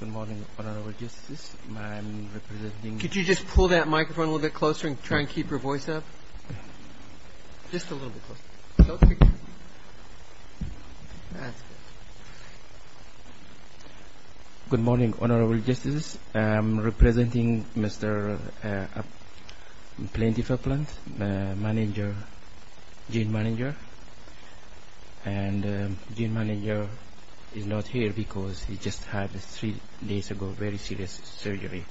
Good morning, Honourable Justices. I am representing Mr. Plenty Faplant, Jane Mininger. And Jane Mininger is not here because he just had, three days ago, a very serious surgery.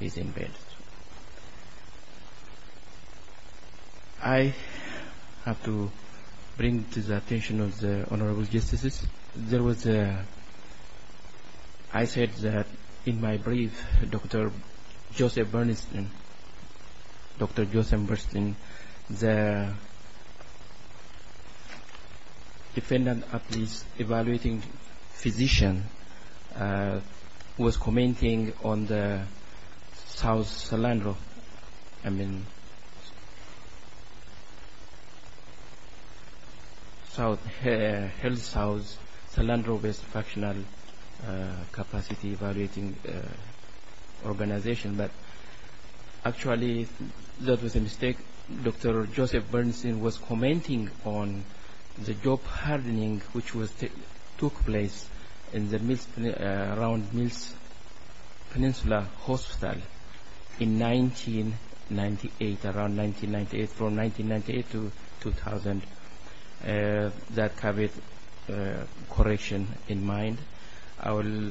He is in bed. I have to bring to the attention of the Honourable Justices. There was a, I said that in my brief, Dr. Joseph Bernstein, Dr. Joseph Bernstein, the defendant of this evaluating physician, was commenting on the South Cylindro, I mean, South, Health South, Cylindro-based fractional capacity evaluating organization. Actually, that was a mistake. Dr. Joseph Bernstein was commenting on the job hardening which took place around Mills Peninsula Hospital in 1998, around 1998, from 1998 to 2000, that had correction in mind. I will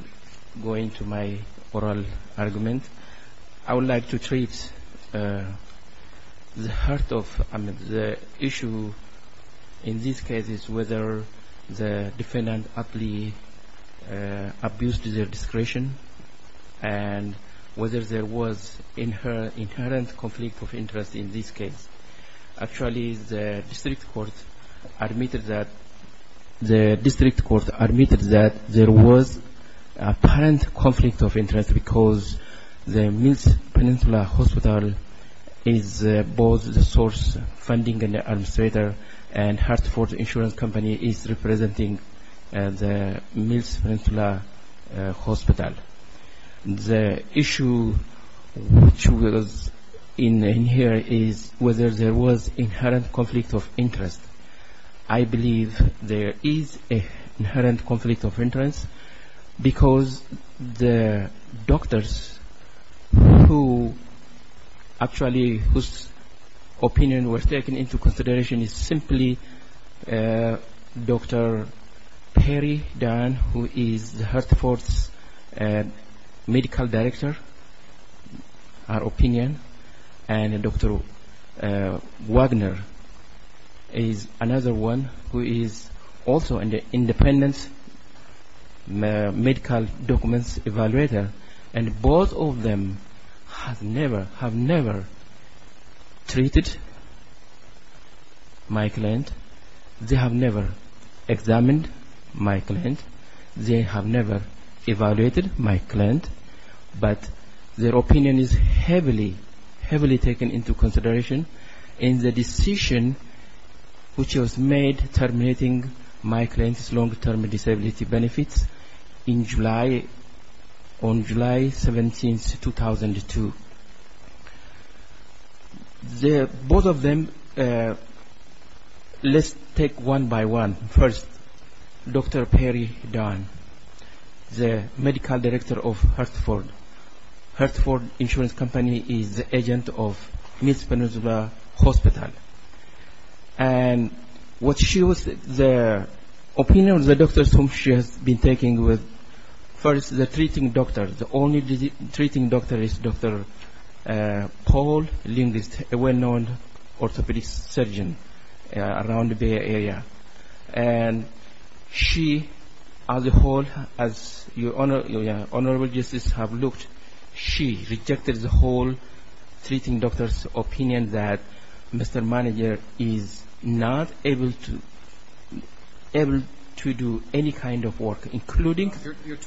go into my oral argument. I would like to treat the heart of the issue in this case is whether the defendant ably abused their discretion and whether there was inherent conflict of interest in this case. Actually, the district court admitted that there was apparent conflict of interest because the Mills Peninsula Hospital is both the source funding and administrator and Hartford Insurance Company is representing the Mills Peninsula Hospital. The issue which was in here is whether there was inherent conflict of interest. I believe there is an inherent conflict of interest because the doctors who actually, whose opinion was taken into consideration is simply Dr. Perry Dunn, who is Hartford's medical director, her opinion, and Dr. Wagner is another one who is also an independent medical documents evaluator. Both of them have never treated my client, they have never examined my client, they have never evaluated my client, but their opinion is heavily, heavily taken into consideration. And the decision which was made terminating my client's long-term disability benefits in July, on July 17, 2002. Both of them, let's take one by one. First, Dr. Perry Dunn, the medical director of Hartford. Hartford Insurance Company is the agent of Mills Peninsula Hospital. And what she was, the opinion of the doctors whom she has been taking with, first the treating doctor, the only treating doctor is Dr. Paul Lind, a well-known orthopedic surgeon around the Bay Area. And she, as a whole, as your Honorable Justices have looked, she rejected the whole treating doctor's opinion that Mr. Manager is not able to do any kind of work, including... No, your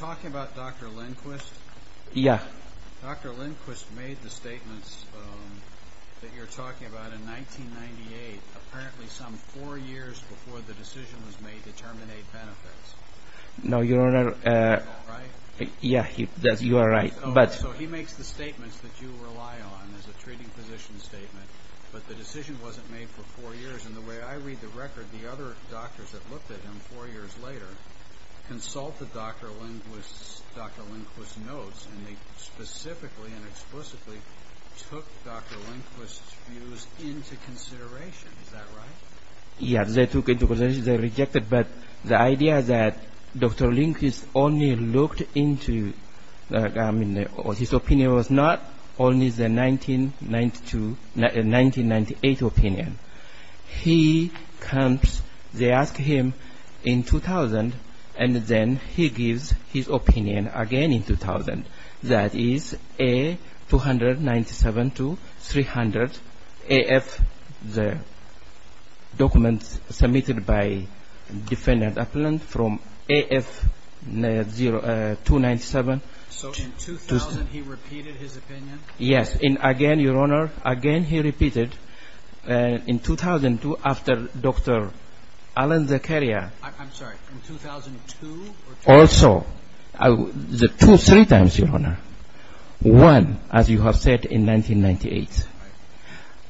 Honor, yes, you are right, but... took Dr. Lindquist's views into consideration, is that right? Yes, they took into consideration, they rejected, but the idea that Dr. Lindquist only looked into, I mean, his opinion was not only the 1992, 1998 opinion. He comes, they ask him in 2000, and then he gives his opinion again in 2000. That is, A, 297 to 300, AF, the documents submitted by defendant appellant from AF 297... So in 2000, he repeated his opinion? Yes, and again, your Honor, again he repeated, in 2002, after Dr. Alan Zakaria... I'm sorry, in 2002? Also, two, three times, your Honor. One, as you have said, in 1998.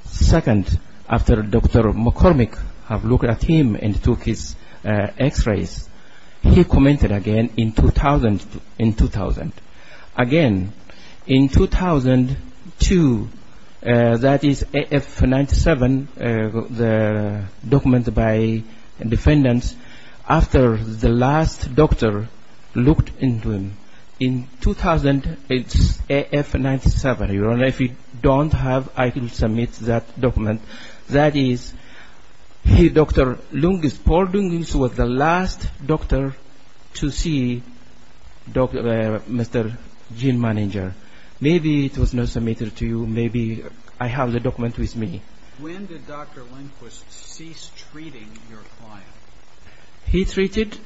Second, after Dr. McCormick have looked at him and took his x-rays, he commented again in 2000. Again, in 2002, that is, AF 97, the documents by defendants, after the last doctor looked into him. In 2000, it's AF 97, your Honor, if you don't have, I can submit that document. That is, Dr. Paul Lindquist was the last doctor to see Mr. Gene Manager. Maybe it was not submitted to you, maybe I have the document with me. When did Dr. Lindquist cease treating your client? He treated,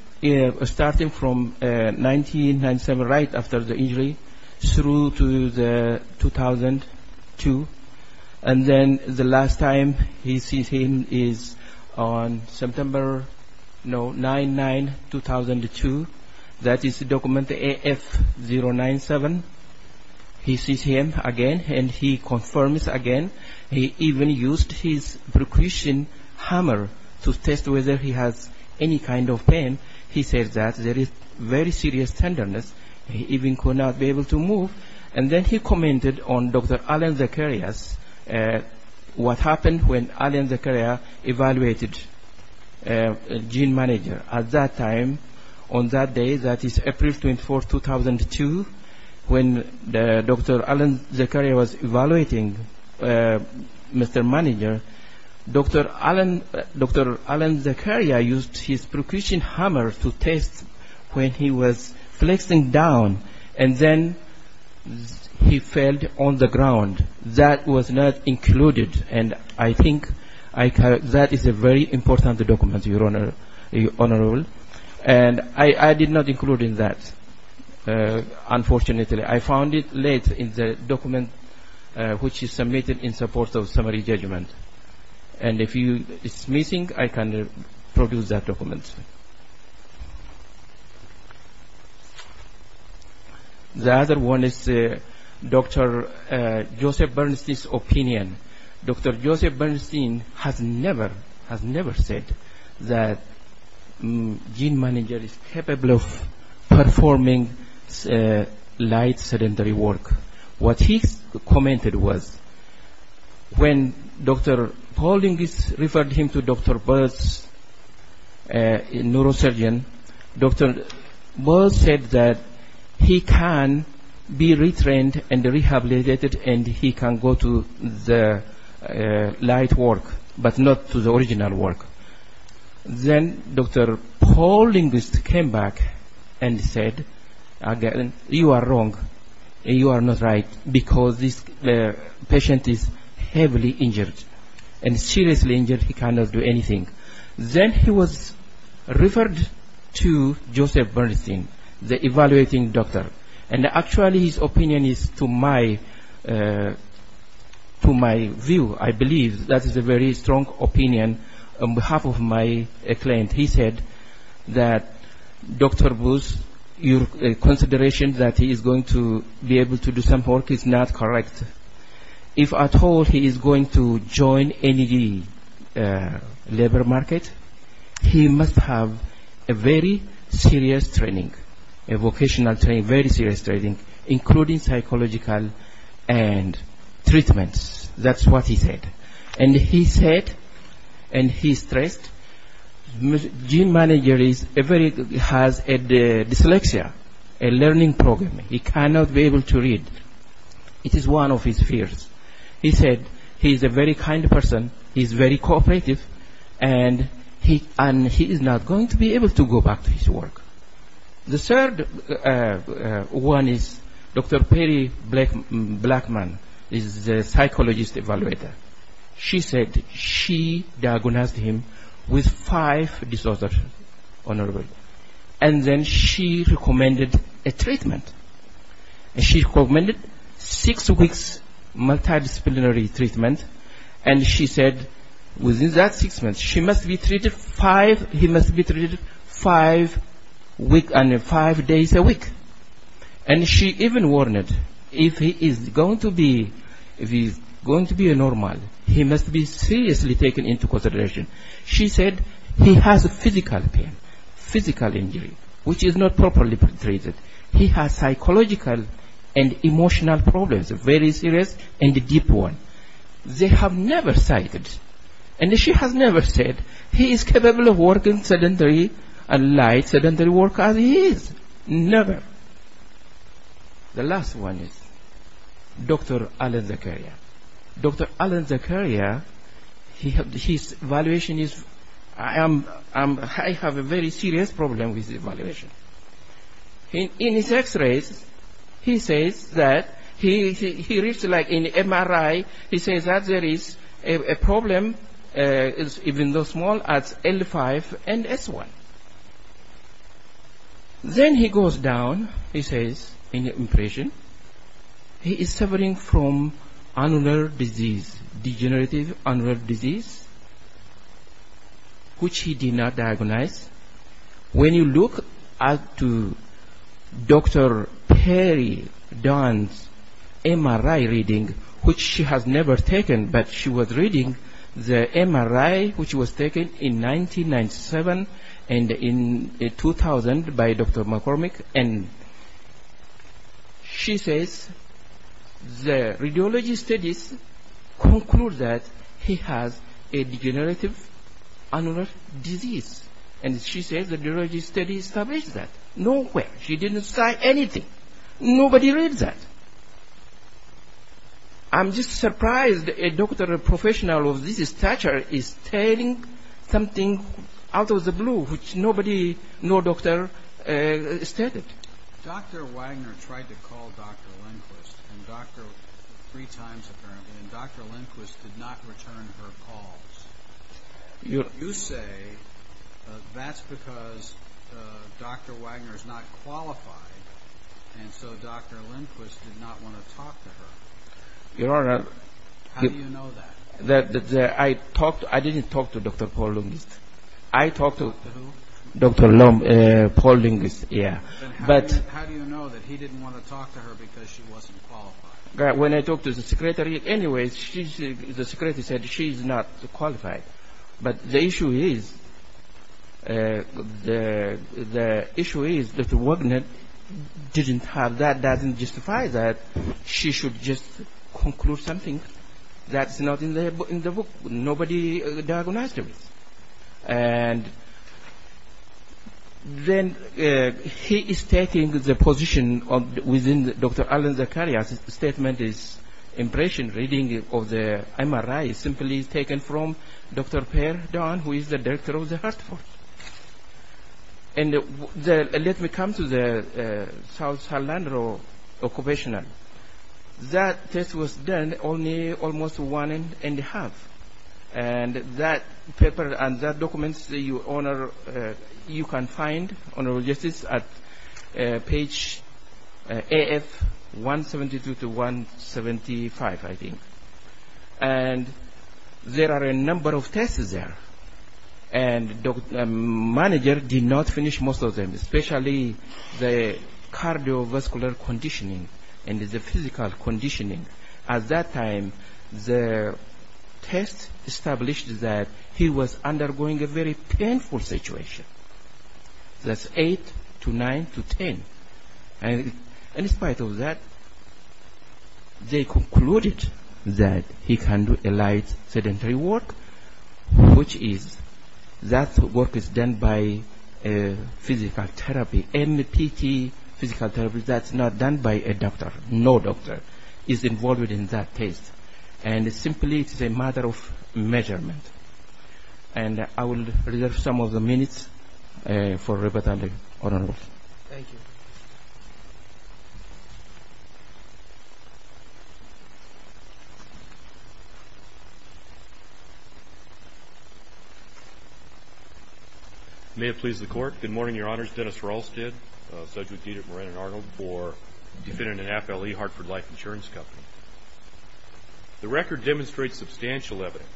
starting from 1997, right after the injury, through to 2002. And then the last time he sees him is on September, no, 99, 2002. That is document AF 097. He sees him again and he confirms again. He even used his percussion hammer to test whether he has any kind of pain. He says that there is very serious tenderness. He even could not be able to move. And then he commented on Dr. Alan Zakaria's, what happened when Alan Zakaria evaluated Gene Manager. At that time, on that day, that is April 24, 2002, when Dr. Alan Zakaria was evaluating Mr. Manager, Dr. Alan Zakaria used his percussion hammer to test when he was flexing down. And then he fell on the ground. That was not included. And I think that is a very important document, Your Honor. And I did not include that, unfortunately. I found it later in the document which is submitted in support of summary judgment. And if it's missing, I can produce that document. The other one is Dr. Joseph Bernstein's opinion. Dr. Joseph Bernstein has never said that Gene Manager is capable of performing light sedentary work. What he commented was when Dr. Paul Linguist referred him to Dr. Bird's neurosurgeon, Dr. Bird said that he can be retrained and rehabilitated and he can go to the light work, but not to the original work. Then Dr. Paul Linguist came back and said, you are wrong and you are not right because this patient is heavily injured and seriously injured. He cannot do anything. Then he was referred to Joseph Bernstein, the evaluating doctor. And actually his opinion is to my view, I believe, that is a very strong opinion on behalf of my client. He said that Dr. Booth, your consideration that he is going to be able to do some work is not correct. If at all he is going to join any labor market, he must have a very serious training, a vocational training, very serious training, including psychological and treatments. That's what he said. And he said, and he stressed, Gene Manager has dyslexia, a learning problem. He cannot be able to read. It is one of his fears. He said he is a very kind person, he is very cooperative, and he is not going to be able to go back to his work. The third one is Dr. Perry Blackman is a psychologist evaluator. She said she diagnosed him with five disorders and then she recommended a treatment. She recommended six weeks multidisciplinary treatment and she said within that six months, he must be treated five days a week. And she even warned that if he is going to be normal, he must be seriously taken into consideration. She said he has physical pain, physical injury, which is not properly treated. He has psychological and emotional problems, very serious and a deep one. They have never cited, and she has never said he is capable of working sedentary and light sedentary work as he is. Never. The last one is Dr. Alan Zakaria. Dr. Alan Zakaria, his evaluation is, I have a very serious problem with evaluation. In his x-rays, he says that, he reads like an MRI, he says that there is a problem, even though small, at L5 and S1. Then he goes down, he says, in an impression, he is suffering from anular disease, degenerative anular disease, which he did not diagnose. When you look at Dr. Perry Dunn's MRI reading, which she has never taken, but she was reading the MRI which was taken in 1997 and in 2000 by Dr. McCormick, and she says the radiology studies conclude that he has a degenerative anular disease. She says the radiology studies establish that. Nowhere. She didn't cite anything. Nobody reads that. I'm just surprised a doctor, a professional of this stature, is telling something out of the blue, which nobody, no doctor, stated. Dr. Wagner tried to call Dr. Lindquist, three times apparently, and Dr. Lindquist did not return her calls. You say that's because Dr. Wagner is not qualified, and so Dr. Lindquist did not want to talk to her. How do you know that? I didn't talk to Dr. Paul Lindquist. I talked to Dr. Paul Lindquist, yeah. How do you know that he didn't want to talk to her because she wasn't qualified? When I talked to the secretary, anyway, the secretary said she's not qualified. But the issue is, the issue is that Dr. Wagner didn't have that, doesn't justify that. She should just conclude something. That's not in the book. Nobody diagnosed her. And then he is taking the position within Dr. Alan Zakaria's statement is impression reading of the MRI simply taken from Dr. Per Don, who is the director of the Heart Force. And let me come to the South Surrender Occupational. That test was done only almost one and a half. And that paper and that documents, you can find on our website at page AF 172 to 175, I think. And there are a number of tests there. And the manager did not finish most of them, especially the cardiovascular conditioning and the physical conditioning. At that time, the test established that he was undergoing a very painful situation. That's 8 to 9 to 10. And in spite of that, they concluded that he can do a light sedentary work, which is, that work is done by physical therapy. NPT, physical therapy, that's not done by a doctor. No doctor is involved in that test. And simply, it's a matter of measurement. And I will reserve some of the minutes for Reverend Arnold. Thank you. May it please the Court. Good morning, Your Honors. Dennis Rahlstedt, a subject with deed at Moreno & Arnold for defendant in half L.E. Hartford Life Insurance Company. The record demonstrates substantial evidence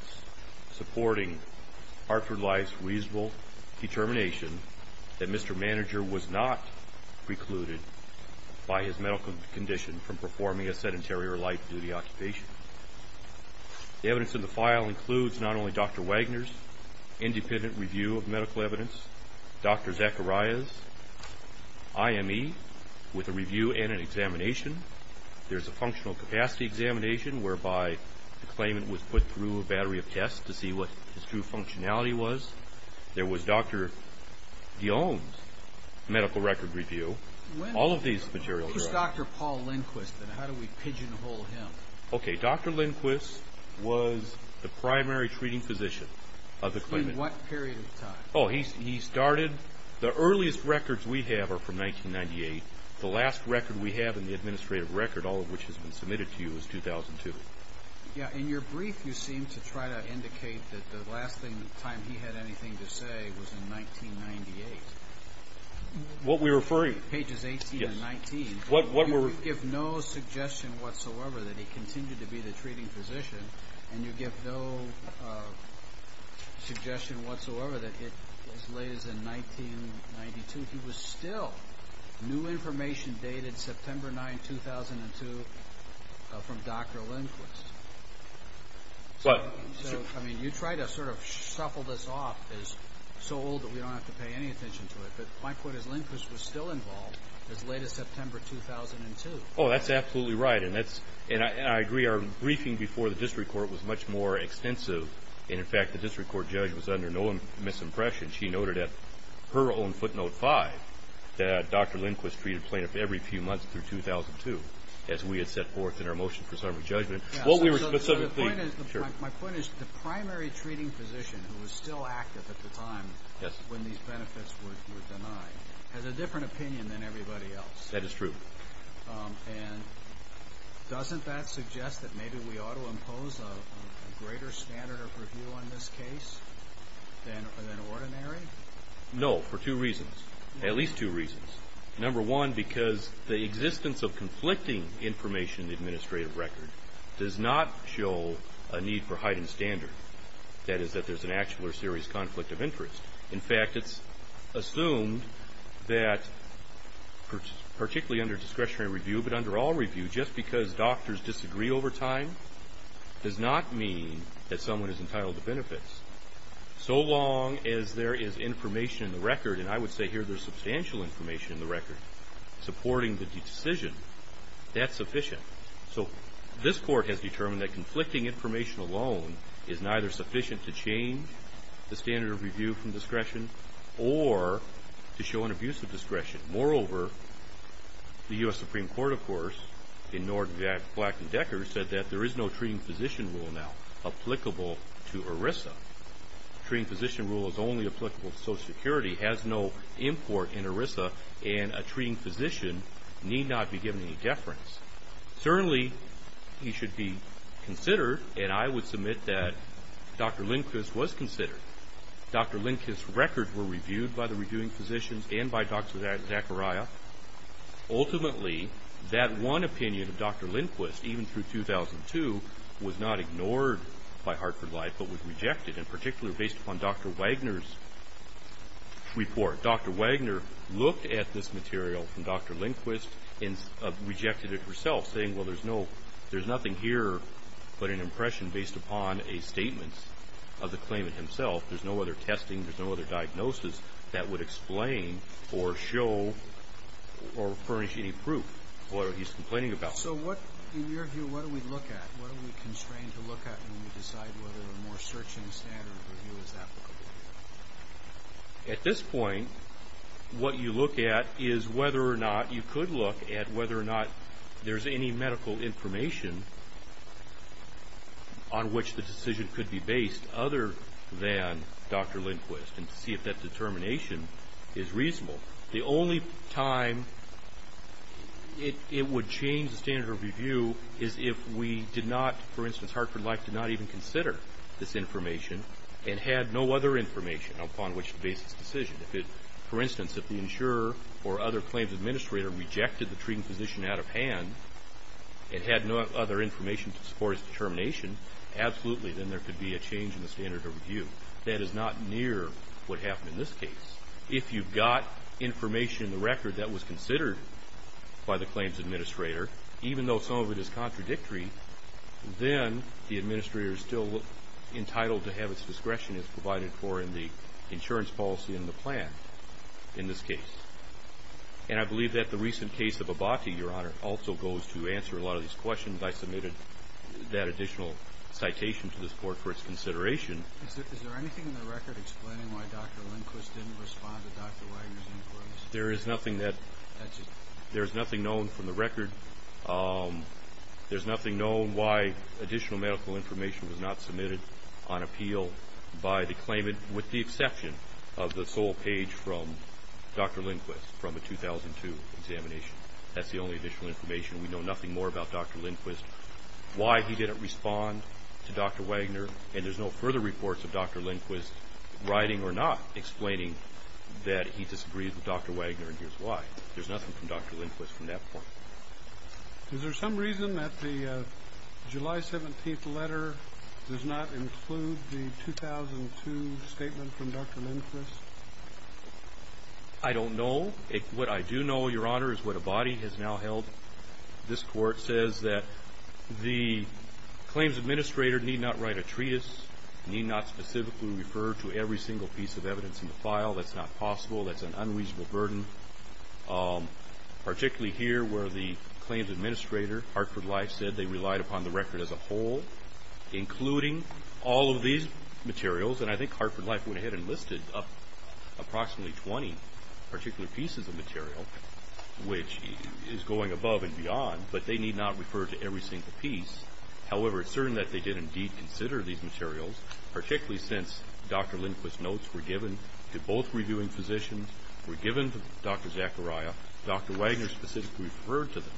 supporting Hartford Life's reasonable determination that Mr. Manager was not precluded by his medical condition from performing a sedentary or light duty occupation. The evidence in the file includes not only Dr. Wagner's independent review of medical evidence, Dr. Zacharias' IME, with a review and an examination. There's a functional capacity examination, whereby the claimant was put through a battery of tests to see what his true functionality was. There was Dr. de Ohm's medical record review. All of these materials... Who's Dr. Paul Lindquist, and how do we pigeonhole him? Okay, Dr. Lindquist was the primary treating physician of the claimant. In what period of time? Oh, he started... the earliest records we have are from 1998. The last record we have in the administrative record, all of which has been submitted to you, is 2002. Yeah, in your brief you seem to try to indicate that the last time he had anything to say was in 1998. What we're referring... You give no suggestion whatsoever that he continued to be the treating physician, and you give no suggestion whatsoever that it was as late as in 1992. He was still... new information dated September 9, 2002, from Dr. Lindquist. What? I mean, you try to sort of shuffle this off as so old that we don't have to pay any attention to it, but my point is Lindquist was still involved as late as September 2002. Oh, that's absolutely right, and I agree. Our briefing before the district court was much more extensive, and in fact the district court judge was under no misimpression. She noted at her own footnote five that Dr. Lindquist treated plaintiff every few months through 2002, as we had set forth in our motion for summary judgment. My point is the primary treating physician, who was still active at the time when these benefits were denied, has a different opinion than everybody else. That is true. And doesn't that suggest that maybe we ought to impose a greater standard of review on this case than ordinary? No, for two reasons. At least two reasons. Number one, because the existence of conflicting information in the administrative record does not show a need for heightened standard. That is that there's an actual or serious conflict of interest. In fact, it's assumed that particularly under discretionary review, but under all review, just because doctors disagree over time does not mean that someone is entitled to benefits. So long as there is information in the record, and I would say here there's substantial information in the record supporting the decision, that's sufficient. So this court has determined that conflicting information alone is neither sufficient to change the standard of review from discretion or to show an abuse of discretion. Moreover, the U.S. Supreme Court, of course, in Norton, Black, and Decker, said that there is no treating physician rule now applicable to ERISA. The treating physician rule is only applicable to Social Security, has no import in ERISA, and a treating physician need not be given any deference. Certainly, he should be considered, and I would submit that Dr. Lindquist was considered. Dr. Lindquist's records were reviewed by the reviewing physicians and by Dr. Zachariah. Ultimately, that one opinion of Dr. Lindquist, even through 2002, was not ignored by Hartford Life, but was rejected, in particular based upon Dr. Wagner's report. Dr. Wagner looked at this material from Dr. Lindquist and rejected it herself, saying, well, there's nothing here but an impression based upon a statement of the claimant himself. There's no other testing. There's no other diagnosis that would explain or show or furnish any proof of what he's complaining about. So what, in your view, what do we look at? What are we constrained to look at when we decide whether a more searching standard of review is applicable? At this point, what you look at is whether or not you could look at whether or not there's any medical information on which the decision could be based other than Dr. Lindquist, and see if that determination is reasonable. The only time it would change the standard of review is if we did not, for instance, Hartford Life did not even consider this information and had no other information upon which to base this decision. For instance, if the insurer or other claims administrator rejected the treating physician out of hand and had no other information to support his determination, absolutely, then there could be a change in the standard of review. That is not near what happened in this case. If you've got information in the record that was considered by the claims administrator, even though some of it is contradictory, then the administrator is still entitled to have its discretion as provided for in the insurance policy and the plan in this case. And I believe that the recent case of Abbate, Your Honor, also goes to answer a lot of these questions. I submitted that additional citation to this Court for its consideration. Is there anything in the record explaining why Dr. Lindquist didn't respond to Dr. Wagner's inquiries? There is nothing known from the record. There's nothing known why additional medical information was not submitted on appeal by the claimant with the exception of the sole page from Dr. Lindquist from a 2002 examination. That's the only additional information. We know nothing more about Dr. Lindquist. Why he didn't respond to Dr. Wagner, and there's no further reports of Dr. Lindquist writing or not explaining that he disagreed with Dr. Wagner, and here's why. There's nothing from Dr. Lindquist from that point. Is there some reason that the July 17th letter does not include the 2002 statement from Dr. Lindquist? I don't know. What I do know, Your Honor, is what Abbate has now held. This Court says that the claims administrator need not write a treatise, need not specifically refer to every single piece of evidence in the file. That's not possible. That's an unreasonable burden, particularly here where the claims administrator, Hartford Life, said they relied upon the record as a whole, including all of these materials. And I think Hartford Life went ahead and listed up approximately 20 particular pieces of material, which is going above and beyond, but they need not refer to every single piece. However, it's certain that they did indeed consider these materials, particularly since Dr. Lindquist's notes were given to both reviewing physicians, were given to Dr. Zachariah. Dr. Wagner specifically referred to them.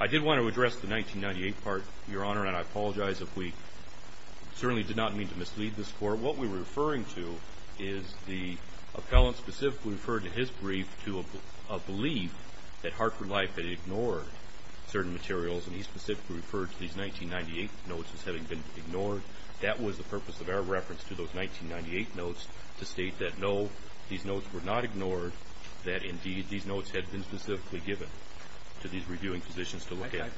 I did want to address the 1998 part, Your Honor, and I apologize if we certainly did not mean to mislead this Court. What we're referring to is the appellant specifically referred to his brief to a belief that Hartford Life had ignored certain materials, and he specifically referred to these 1998 notes as having been ignored. That was the purpose of our reference to those 1998 notes, to state that no, these notes were not ignored, that indeed these notes had been specifically given to these reviewing physicians to look at.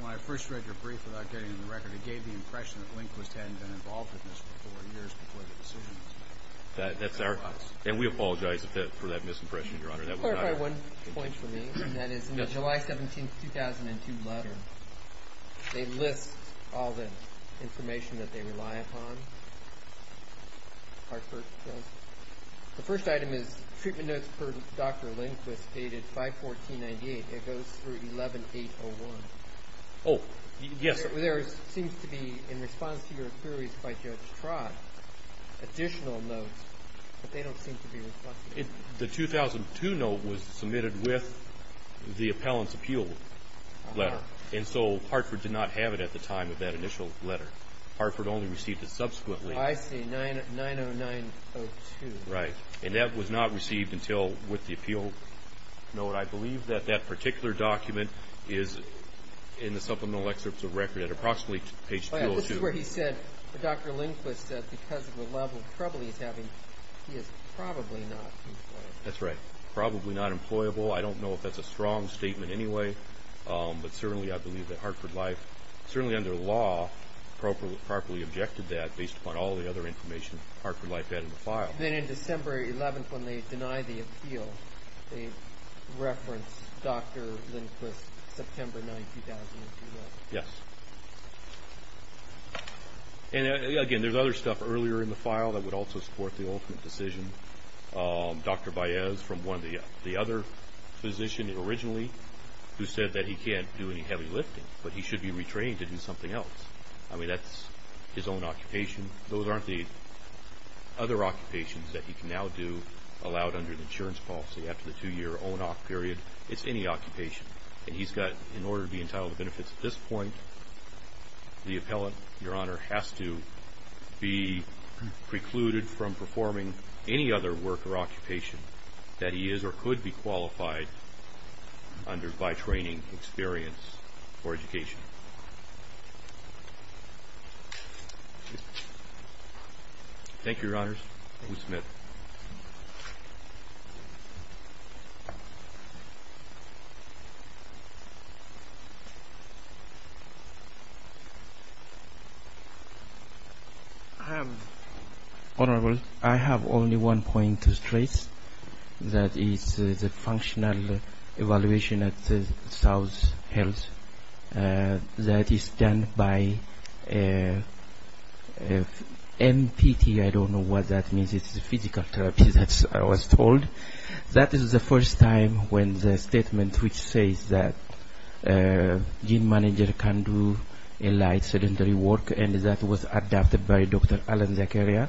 When I first read your brief without getting into the record, it gave the impression that Lindquist hadn't been involved with this for years before the decision was made. That's our – and we apologize for that misimpression, Your Honor. Could you clarify one point for me? That is, in the July 17, 2002 letter, they list all the information that they rely upon, Hartford says. The first item is treatment notes per Dr. Lindquist dated 5-14-98. It goes through 11-8-01. Oh, yes. There seems to be, in response to your queries by Judge Trott, additional notes, but they don't seem to be reflected. The 2002 note was submitted with the appellant's appeal letter, and so Hartford did not have it at the time of that initial letter. Hartford only received it subsequently. I see, 9-0-9-0-2. Right, and that was not received until with the appeal note. I believe that that particular document is in the supplemental excerpts of record at approximately page 202. This is where he said that Dr. Lindquist, because of the level of trouble he's having, he is probably not employable. That's right, probably not employable. I don't know if that's a strong statement anyway, but certainly I believe that Hartford Life, certainly under law, properly objected to that based upon all the other information Hartford Life had in the file. Then in December 11, when they denied the appeal, they referenced Dr. Lindquist, September 9, 2002. Yes. Again, there's other stuff earlier in the file that would also support the ultimate decision. Dr. Baez, from the other physician originally, who said that he can't do any heavy lifting, but he should be retrained to do something else. I mean, that's his own occupation. Those aren't the other occupations that he can now do allowed under the insurance policy after the two-year ONOC period. It's any occupation, and he's got, in order to be entitled to benefits at this point, the appellant, Your Honor, has to be precluded from performing any other work or occupation that he is or could be qualified under by training, experience, or education. Thank you. Thank you, Your Honors. Thank you, Smith. Honorable, I have only one point to stress, and that is the functional evaluation at South Health that is done by MPT. I don't know what that means. It's the physical therapy that I was told. That is the first time when the statement which says that gene manager can do a light sedentary work, and that was adapted by Dr. Alan Zakaria.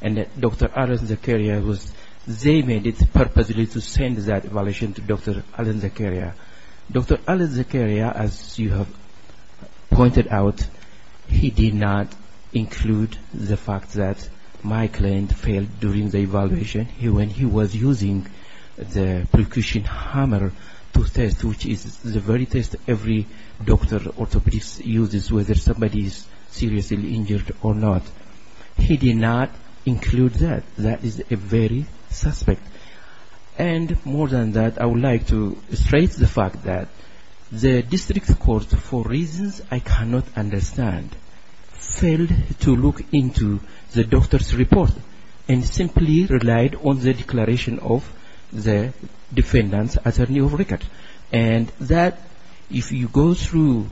And Dr. Alan Zakaria was, they made it purposely to send that evaluation to Dr. Alan Zakaria. Dr. Alan Zakaria, as you have pointed out, he did not include the fact that my client failed during the evaluation. When he was using the percussion hammer to test, which is the very test every doctor or orthopedist uses, whether somebody is seriously injured or not, he did not include that. That is a very suspect. And more than that, I would like to stress the fact that the district court, for reasons I cannot understand, failed to look into the doctor's report and simply relied on the declaration of the defendant's attorney of record. And that, if you go through,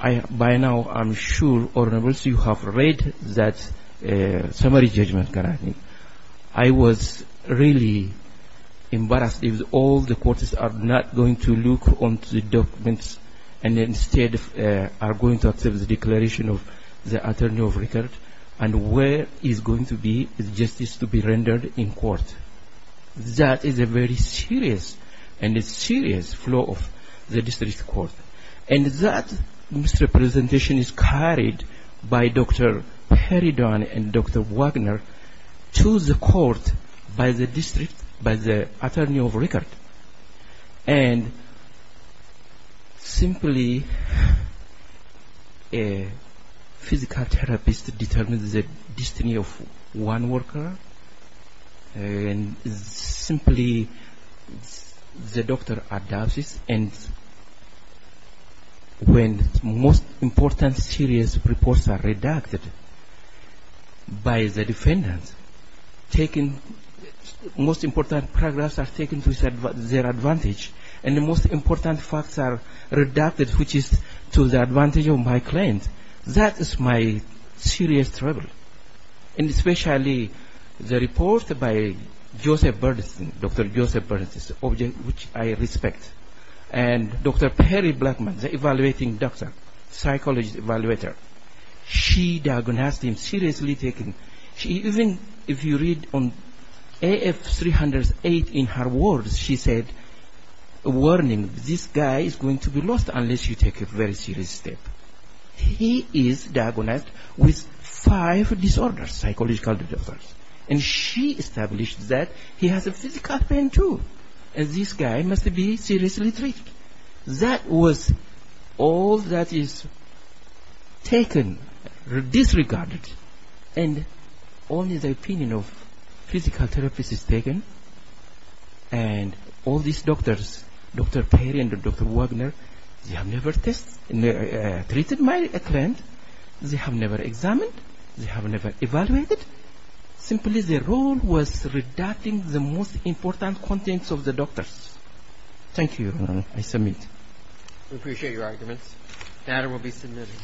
by now I'm sure you have read that summary judgment. I was really embarrassed because all the courts are not going to look on the documents and instead are going to accept the declaration of the attorney of record and where is going to be the justice to be rendered in court. That is a very serious and a serious flaw of the district court. And that misrepresentation is carried by Dr. Perry Dunn and Dr. Wagner to the court by the district, by the attorney of record. And simply a physical therapist determines the destiny of one worker. And simply the doctor adopts it. And when most important serious reports are redacted by the defendant, most important progress are taken to their advantage and the most important facts are redacted, which is to the advantage of my client, that is my serious trouble. And especially the report by Joseph Bernstein, Dr. Joseph Bernstein, which I respect, and Dr. Perry Blackman, the evaluating doctor, psychologist evaluator, she diagnosed him seriously. Even if you read on AF 308 in her words, she said a warning, this guy is going to be lost unless you take a very serious step. He is diagnosed with five disorders, psychological disorders. And she established that he has a physical pain too. And this guy must be seriously treated. That was all that is taken, disregarded. And only the opinion of physical therapist is taken. And all these doctors, Dr. Perry and Dr. Wagner, they have never treated my client. They have never examined. They have never evaluated. Simply their role was redacting the most important contents of the doctors. Thank you, Your Honor. I submit. We appreciate your arguments. The matter will be submitted.